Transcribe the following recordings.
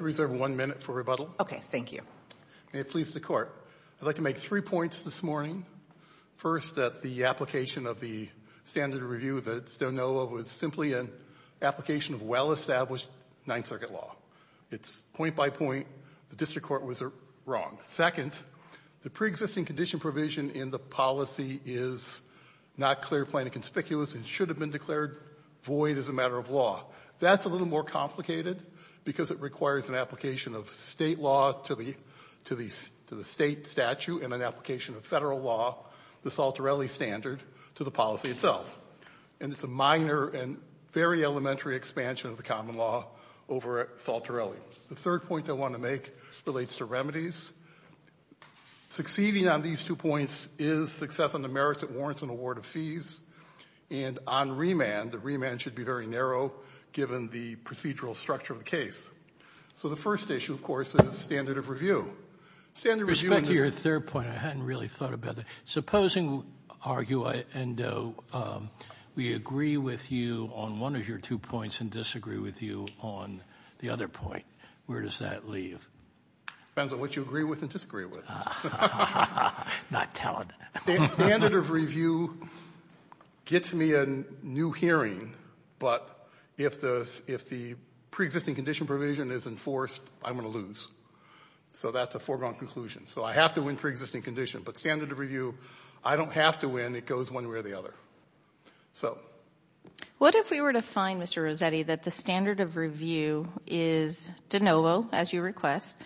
I reserve one minute for rebuttal. Okay, thank you. May it please the court. I'd like to make three points this morning. First, that the application of the standard review that Stoneola was simply an application of well-established Ninth Circuit law. It's point by point, the district court was wrong. Second, the pre-existing condition provision in the policy is not clear, plain, and conspicuous and should have been declared void as a matter of law. That's a little more complicated because it requires an application of state law to the state statute and an application of federal law, the Saltorelli standard, to the policy itself. And it's a minor and very elementary expansion of the common law over Saltorelli. The third point I want to make relates to remedies. Succeeding on these two points is success on the merits that warrants an award of fees. And on remand, the remand should be very narrow given the procedural structure of the case. So the first issue, of course, is standard of review. Standard review in this ---- Respect to your third point, I hadn't really thought about that. Supposing, argue, and we agree with you on one of your two points and disagree with you on the other point, where does that leave? Depends on what you agree with and disagree with. Not telling. The standard of review gets me a new hearing, but if the preexisting condition provision is enforced, I'm going to lose. So that's a foregone conclusion. So I have to win preexisting condition. But standard of review, I don't have to win. It goes one way or the other. What if we were to find, Mr. Rossetti, that the standard of review is de novo, as you request,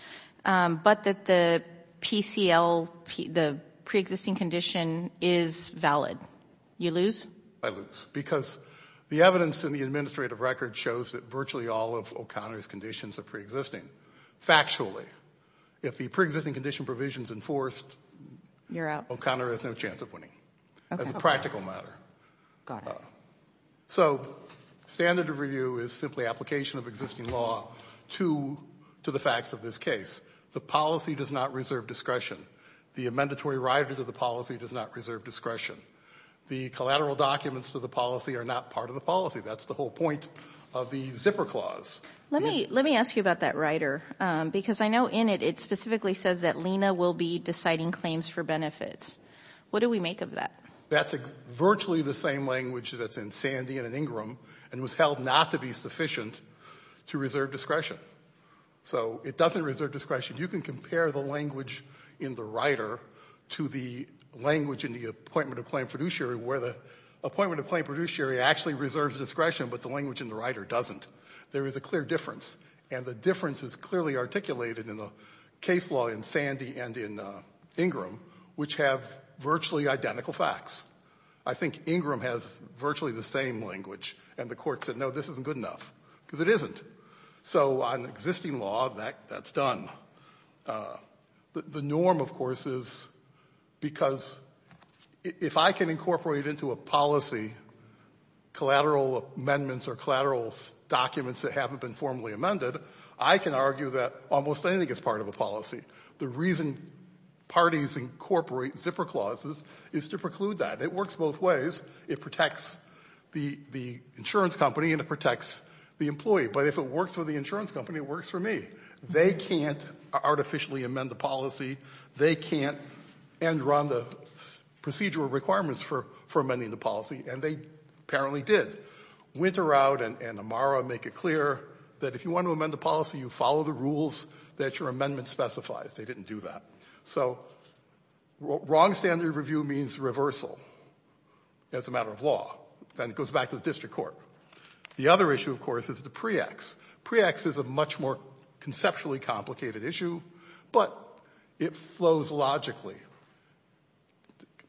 but that the PCL, the preexisting condition, is valid? You lose? I lose. Because the evidence in the administrative record shows that virtually all of O'Connor's conditions are preexisting, factually. If the preexisting condition provision is enforced, O'Connor has no chance of winning. Okay. As a practical matter. Got it. So standard of review is simply application of existing law to the facts of this case. The policy does not reserve discretion. The amendatory rider to the policy does not reserve discretion. The collateral documents to the policy are not part of the policy. That's the whole point of the zipper clause. Let me ask you about that rider. Because I know in it, it specifically says that Lena will be deciding claims for benefits. What do we make of that? That's virtually the same language that's in Sandy and in Ingram, and was held not to be sufficient to reserve discretion. So it doesn't reserve discretion. You can compare the language in the rider to the language in the appointment of claim fiduciary, where the appointment of claim fiduciary actually reserves discretion, but the language in the rider doesn't. There is a clear difference, and the difference is clearly articulated in the case law in Sandy and in Ingram, which have virtually identical facts. I think Ingram has virtually the same language. And the Court said, no, this isn't good enough, because it isn't. So on existing law, that's done. The norm, of course, is because if I can incorporate into a policy collateral amendments or collateral documents that haven't been formally amended, I can argue that almost anything is part of a policy. The reason parties incorporate zipper clauses is to preclude that. It works both ways. It protects the insurance company, and it protects the employee. But if it works for the insurance company, it works for me. They can't artificially amend the policy. They can't end-run the procedural requirements for amending the policy, and they apparently did. Winteroud and Amara make it clear that if you want to amend the policy, you follow the rules that your amendment specifies. They didn't do that. So wrong standard review means reversal as a matter of law. Then it goes back to the district court. The other issue, of course, is the PREACTS. PREACTS is a much more conceptually complicated issue, but it flows logically.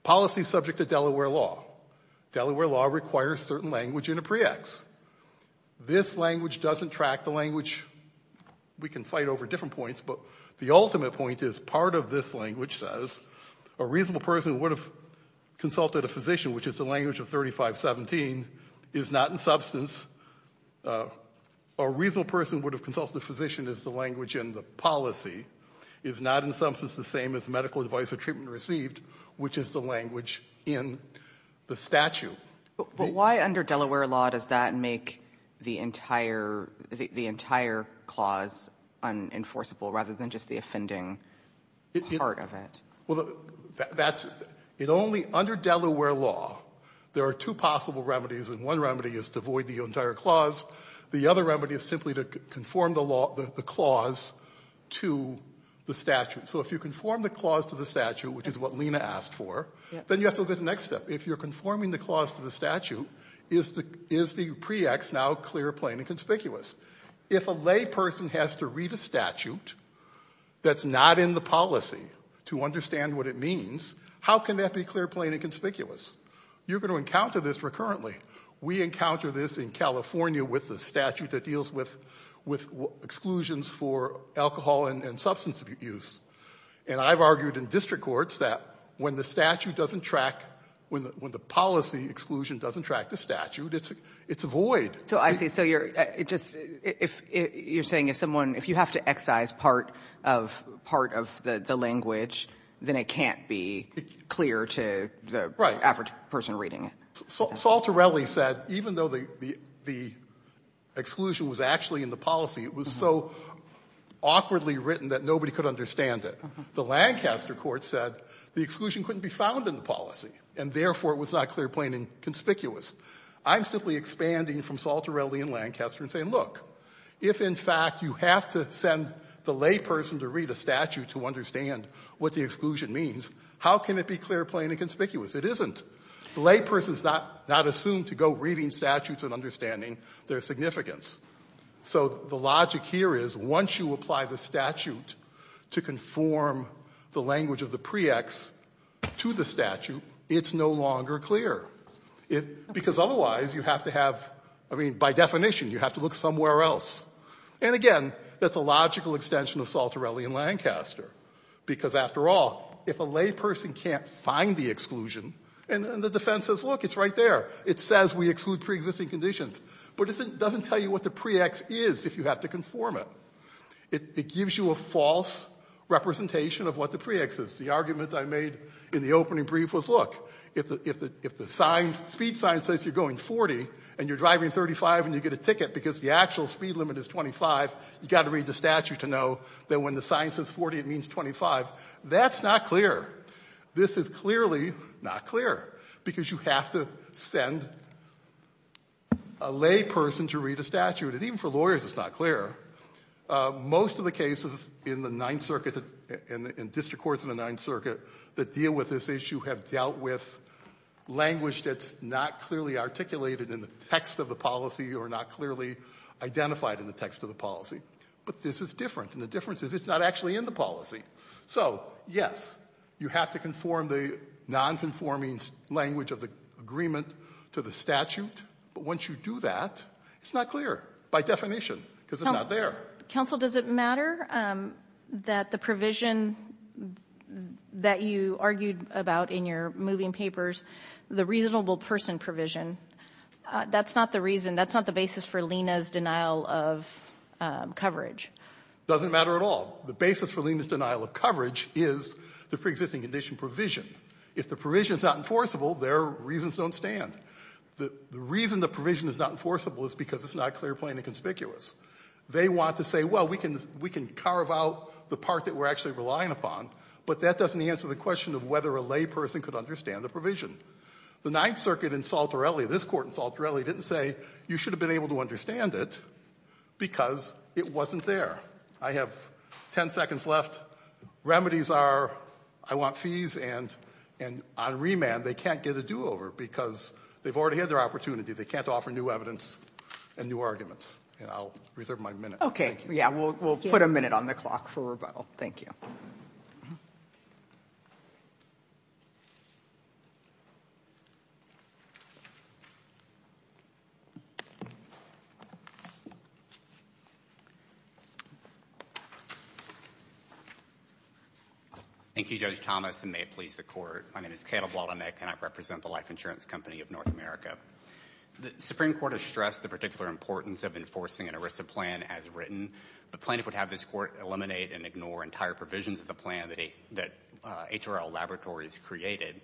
Policy subject to Delaware law. Delaware law requires certain language in a PREACTS. This language doesn't track the language. We can fight over different points, but the ultimate point is part of this language says a reasonable person would have consulted a physician, which is the language of 3517, is not in substance. A reasonable person would have consulted a physician is the language in the policy, is not in substance the same as medical advice or treatment received, which is the language in the statute. But why under Delaware law does that make the entire clause unenforceable rather than just the offending part of it? Well, that's only under Delaware law. There are two possible remedies, and one remedy is to avoid the entire clause. The other remedy is simply to conform the clause to the statute. So if you conform the clause to the statute, which is what Lena asked for, then you have to look at the next step. If you're conforming the clause to the statute, is the PREACTS now clear, plain, and conspicuous? If a lay person has to read a statute that's not in the policy to understand what it means, how can that be clear, plain, and conspicuous? You're going to encounter this recurrently. We encounter this in California with the statute that deals with exclusions for alcohol and substance abuse. And I've argued in district courts that when the statute doesn't track, when the policy exclusion doesn't track the statute, it's void. So I see. So you're just, you're saying if someone, if you have to excise part of the language, then it can't be clear to the average person reading it. Right. Saul Torelli said even though the exclusion was actually in the policy, it was so awkwardly written that nobody could understand it. The Lancaster court said the exclusion couldn't be found in the policy, and therefore it was not clear, plain, and conspicuous. I'm simply expanding from Saul Torelli in Lancaster and saying, look, if in fact you have to send the lay person to read a statute to understand what the exclusion means, how can it be clear, plain, and conspicuous? It isn't. The lay person is not assumed to go reading statutes and understanding their significance. So the logic here is once you apply the statute to conform the language of the pre-ex to the statute, it's no longer clear. Because otherwise, you have to have, I mean, by definition, you have to look somewhere else. And again, that's a logical extension of Saul Torelli in Lancaster, because after all, if a lay person can't find the exclusion, and the defense says, look, it's right there, it says we exclude preexisting conditions, but it doesn't tell you what the pre-ex is if you have to conform it. It gives you a false representation of what the pre-ex is. The argument I made in the opening brief was, look, if the sign, speed sign says you're going 40 and you're driving 35 and you get a ticket because the actual speed limit is 25, you've got to read the statute to know that when the sign says 40, it means 25. That's not clear. This is clearly not clear, because you have to send a lay person to read a statute. And even for lawyers, it's not clear. Most of the cases in the Ninth Circuit and district courts in the Ninth Circuit that deal with this issue have dealt with language that's not clearly articulated in the text of the policy or not clearly identified in the text of the policy. But this is different. And the difference is it's not actually in the policy. So, yes, you have to conform the nonconforming language of the agreement to the statute. But once you do that, it's not clear, by definition, because it's not there. Kagan. Counsel, does it matter that the provision that you argued about in your moving papers, the reasonable person provision, that's not the reason, that's not the basis for Lena's denial of coverage? Doesn't matter at all. The basis for Lena's denial of coverage is the preexisting condition provision. If the provision is not enforceable, their reasons don't stand. The reason the provision is not enforceable is because it's not clear, plain and conspicuous. They want to say, well, we can carve out the part that we're actually relying upon, but that doesn't answer the question of whether a layperson could understand the provision. The Ninth Circuit in Saltorelli, this Court in Saltorelli, didn't say you should have been able to understand it because it wasn't there. I have ten seconds left. Remedies are I want fees, and on remand they can't get a do-over because they've already had their opportunity. They can't offer new evidence and new arguments. And I'll reserve my minute. Yeah, we'll put a minute on the clock for rebuttal. Thank you. Thank you, Judge Thomas, and may it please the Court. My name is Caleb Woldemich, and I represent the Life Insurance Company of North America. The Supreme Court has stressed the particular importance of enforcing an ERISA plan as written, but plaintiff would have this Court eliminate and ignore entire provisions of the plan that HRL Laboratories created.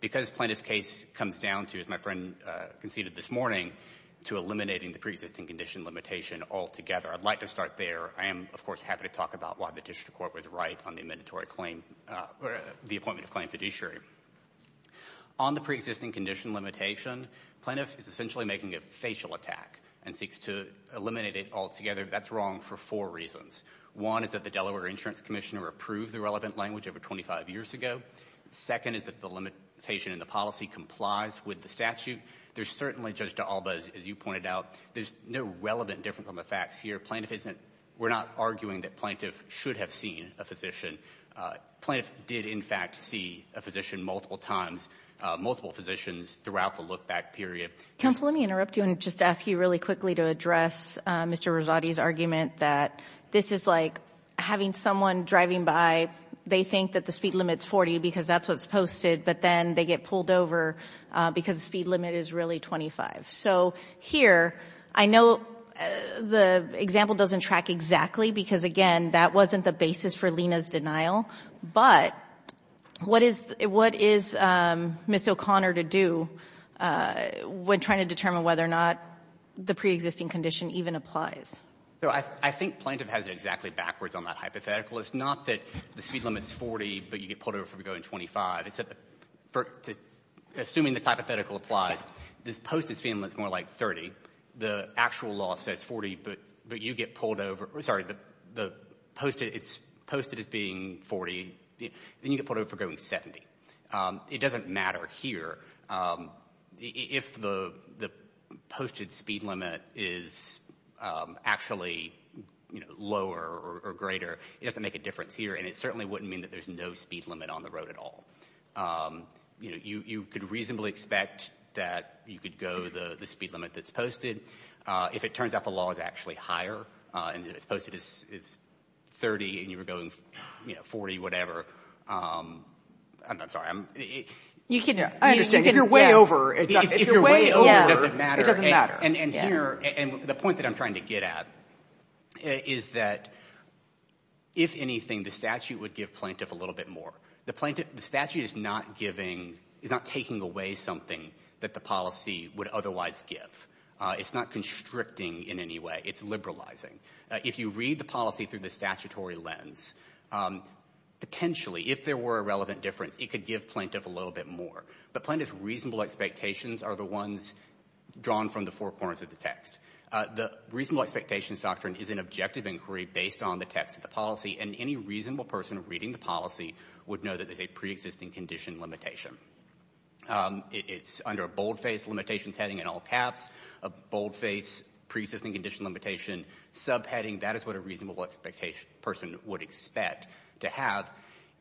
Because plaintiff's case comes down to, as my friend conceded this morning, to eliminating the preexisting condition limitation altogether. I'd like to start there. I am, of course, happy to talk about why the district court was right on the appointment of claim fiduciary. On the preexisting condition limitation, plaintiff is essentially making a facial attack and seeks to eliminate it altogether. That's wrong for four reasons. One is that the Delaware Insurance Commissioner approved the relevant language over 25 years ago. Second is that the limitation in the policy complies with the statute. There's certainly, Judge D'Alba, as you pointed out, there's no relevant difference on the facts here. Plaintiff isn't – we're not arguing that plaintiff should have seen a physician. Plaintiff did, in fact, see a physician multiple times, multiple physicians throughout the look-back period. Counsel, let me interrupt you and just ask you really quickly to address Mr. Rosati's argument that this is like having someone driving by. They think that the speed limit's 40 because that's what's posted, but then they get pulled over because the speed limit is really 25. So here, I know the example doesn't track exactly because, again, that wasn't the basis for Lena's denial. But what is – what is Ms. O'Connor to do when trying to determine whether or not the preexisting condition even applies? So I think plaintiff has it exactly backwards on that hypothetical. It's not that the speed limit's 40, but you get pulled over for going 25. Assuming this hypothetical applies, this posted speed limit's more like 30. The actual law says 40, but you get pulled over – sorry, posted as being 40, then you get pulled over for going 70. It doesn't matter here. If the posted speed limit is actually lower or greater, it doesn't make a difference here, and it certainly wouldn't mean that there's no speed limit on the road at all. You could reasonably expect that you could go the speed limit that's posted. If it turns out the law is actually higher and it's posted as 30 and you were going 40, whatever – I'm sorry, I'm – You can – If you're way over – If you're way over, it doesn't matter. And here – and the point that I'm trying to get at is that, if anything, the statute would give plaintiff a little bit more. The statute is not giving – is not taking away something that the policy would otherwise give. It's not constricting in any way. It's liberalizing. If you read the policy through the statutory lens, potentially, if there were a relevant difference, it could give plaintiff a little bit more. But plaintiff's reasonable expectations are the ones drawn from the four corners of the text. The reasonable expectations doctrine is an objective inquiry based on the text of the policy, and any reasonable person reading the policy would know that there's a preexisting condition limitation. It's under a boldface limitations heading in all caps, a boldface preexisting condition limitation subheading. That is what a reasonable expectation – person would expect to have.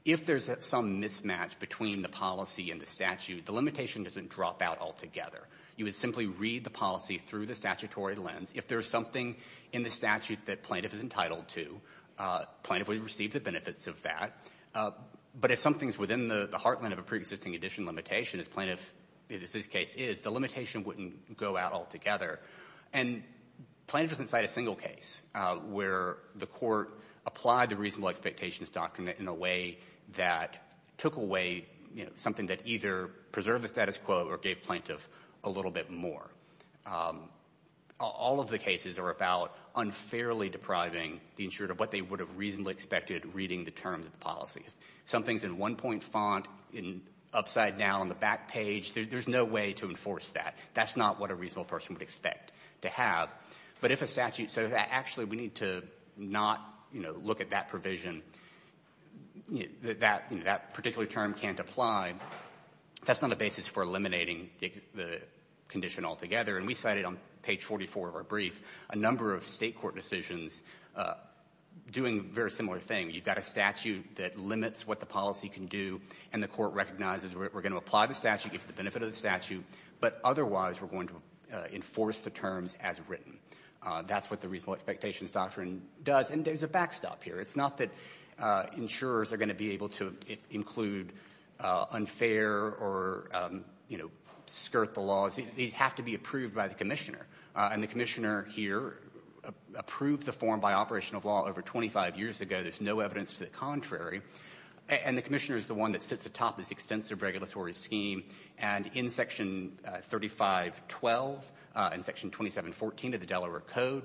If there's some mismatch between the policy and the statute, the limitation doesn't drop out altogether. You would simply read the policy through the statutory lens. If there's something in the statute that plaintiff is entitled to, plaintiff would receive the benefits of that. But if something's within the heartland of a preexisting condition limitation, as plaintiff in this case is, the limitation wouldn't go out altogether. And plaintiff is inside a single case where the court applied the reasonable expectations doctrine in a way that took away, you know, something that either preserved the status quo or gave plaintiff a little bit more. All of the cases are about unfairly depriving the insurer of what they would have reasonably expected reading the terms of the policy. If something's in one-point font, upside down on the back page, there's no way to enforce that. That's not what a reasonable person would expect to have. But if a statute says, actually, we need to not, you know, look at that provision, that particular term can't apply, that's not a basis for eliminating the condition altogether. And we cited on page 44 of our brief a number of State court decisions doing a very similar thing. You've got a statute that limits what the policy can do, and the court recognizes we're going to apply the statute, get the benefit of the statute, but otherwise we're going to enforce the terms as written. That's what the reasonable expectations doctrine does. And there's a backstop here. It's not that insurers are going to be able to include unfair or, you know, skirt the laws. These have to be approved by the commissioner. And the commissioner here approved the form by operation of law over 25 years ago. There's no evidence to the contrary. And the commissioner is the one that sits atop this extensive regulatory scheme. And in Section 3512 and Section 2714 of the Delaware Code,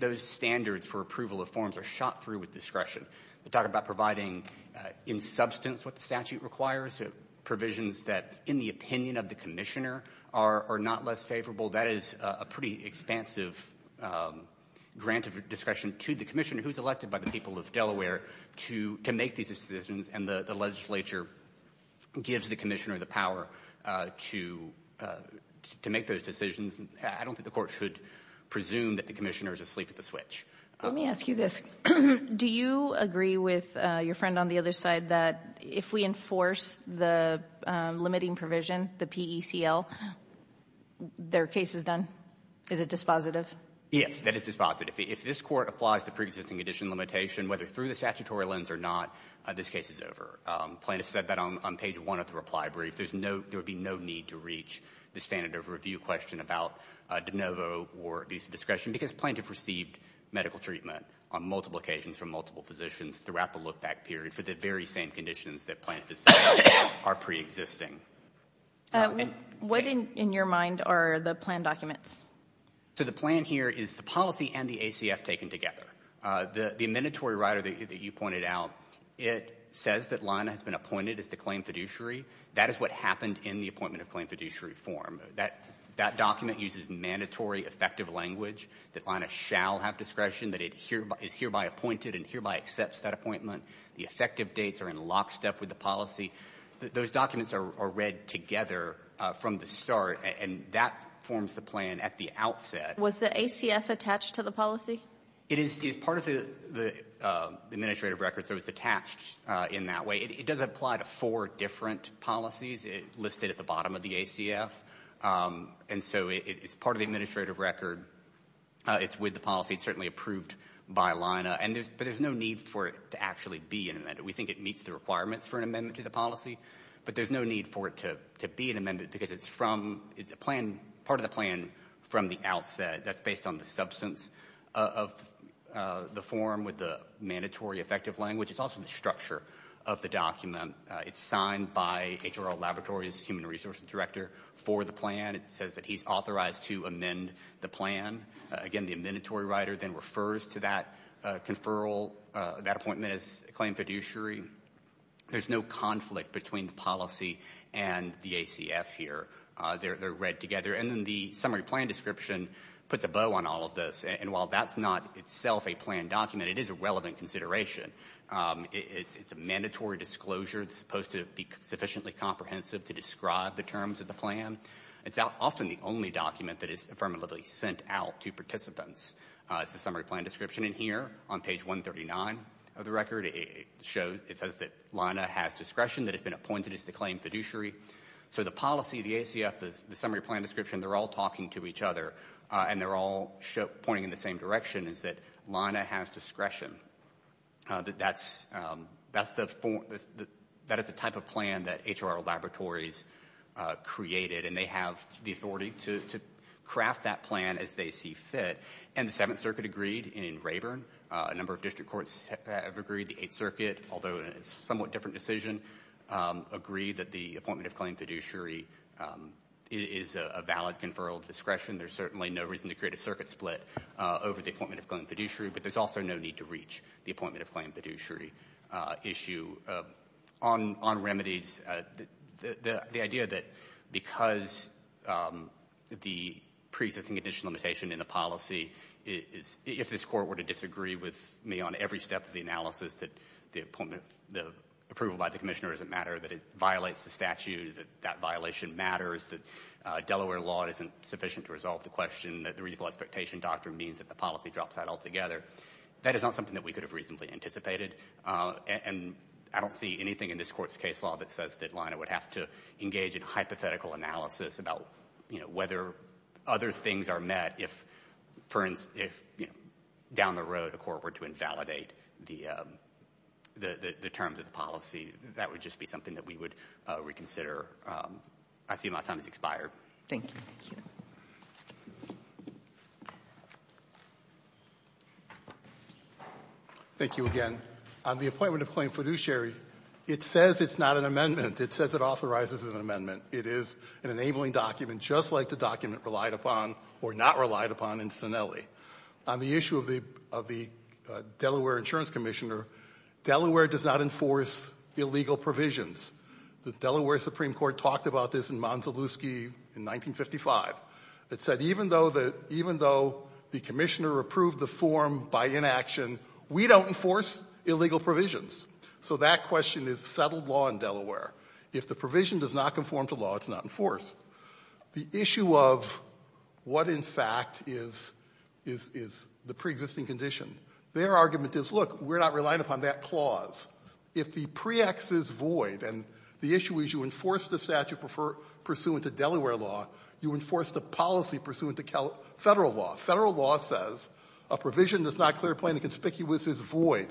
those standards for approval of forms are shot through with discretion. We're talking about providing in substance what the statute requires, provisions that, in the opinion of the commissioner, are not less favorable. That is a pretty expansive grant of discretion to the commissioner, who's elected by the people of Delaware, to make these decisions. And the legislature gives the commissioner the power to make those decisions. I don't think the court should presume that the commissioner is asleep at the switch. Let me ask you this. Do you agree with your friend on the other side that if we enforce the limiting provision, the PECL, their case is done? Is it dispositive? Yes, that it's dispositive. If this Court applies the preexisting condition limitation, whether through the statutory lens or not, this case is over. Plaintiff said that on page 1 of the reply brief. There's no need to reach the standard of review question about de novo or abuse of discretion, because plaintiff received medical treatment on multiple occasions from multiple physicians throughout the look-back period for the very same conditions that plaintiff is saying are preexisting. What in your mind are the plan documents? So the plan here is the policy and the ACF taken together. The mandatory rider that you pointed out, it says that Lana has been appointed as the claim fiduciary. That is what happened in the appointment of claim fiduciary form. That document uses mandatory effective language that Lana shall have discretion, that it is hereby appointed and hereby accepts that appointment. The effective dates are in lockstep with the policy. Those documents are read together from the start, and that forms the plan at the outset. Was the ACF attached to the policy? It is part of the administrative record, so it's attached in that way. It does apply to four different policies listed at the bottom of the ACF, and so it's part of the administrative record. It's with the policy. It's certainly approved by Lana, but there's no need for it to actually be an amendment. We think it meets the requirements for an amendment to the policy, but there's no need for it to be an amendment because it's part of the plan from the outset. That's based on the substance of the form with the mandatory effective language. It's also the structure of the document. It's signed by HRL Laboratories Human Resources Director for the plan. It says that he's authorized to amend the plan. Again, the amendatory writer then refers to that conferral, that appointment as claim fiduciary. There's no conflict between the policy and the ACF here. They're read together, and then the summary plan description puts a bow on all of this, and while that's not itself a plan document, it is a relevant consideration. It's a mandatory disclosure. It's supposed to be sufficiently comprehensive to describe the terms of the plan. It's often the only document that is affirmatively sent out to participants. It's the summary plan description in here on page 139 of the record. It says that Lana has discretion, that it's been appointed as the claim fiduciary. So the policy, the ACF, the summary plan description, they're all talking to each other, and they're all pointing in the same direction, is that Lana has discretion. That is the type of plan that HRL Laboratories created, and they have the authority to craft that plan as they see fit. And the Seventh Circuit agreed in Rayburn. A number of district courts have agreed. The Eighth Circuit, although in a somewhat different decision, agreed that the appointment of claim fiduciary is a valid conferral of discretion. There's certainly no reason to create a circuit split over the appointment of claim fiduciary, but there's also no need to reach the appointment of claim fiduciary issue. On remedies, the idea that because the preexisting condition limitation in the policy is if this Court were to disagree with me on every step of the analysis, that the approval by the Commissioner doesn't matter, that it violates the statute, that that violation matters, that Delaware law isn't sufficient to resolve the question, that the reasonable expectation doctrine means that the policy drops out altogether, that is not something that we could have reasonably anticipated. And I don't see anything in this Court's case law that says that Lana would have to engage in hypothetical analysis about whether other things are met if, for instance, down the road the Court were to invalidate the terms of the policy. That would just be something that we would reconsider. I see my time has expired. Thank you. Thank you again. On the appointment of claim fiduciary, it says it's not an amendment. It says it authorizes an amendment. It is an enabling document just like the document relied upon or not relied upon in Sinelli. On the issue of the Delaware Insurance Commissioner, Delaware does not enforce illegal provisions. The Delaware Supreme Court talked about this in Monteluski in 1955. It said even though the Commissioner approved the form by inaction, we don't enforce illegal provisions. So that question is settled law in Delaware. If the provision does not conform to law, it's not enforced. The issue of what, in fact, is the preexisting condition, their argument is, look, we're not relying upon that clause. If the pre-ex is void and the issue is you enforce the statute pursuant to Delaware law, you enforce the policy pursuant to Federal law. Federal law says a provision that's not clear, plain and conspicuous is void.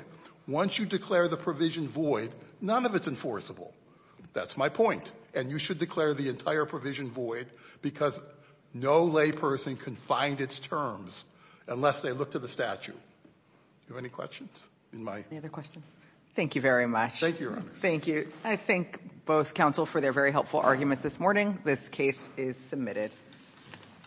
Once you declare the provision void, none of it's enforceable. That's my point. And you should declare the entire provision void because no layperson can find its terms unless they look to the statute. Do you have any questions? Any other questions? Thank you very much. Thank you, Your Honor. Thank you. I thank both counsel for their very helpful arguments this morning. This case is submitted.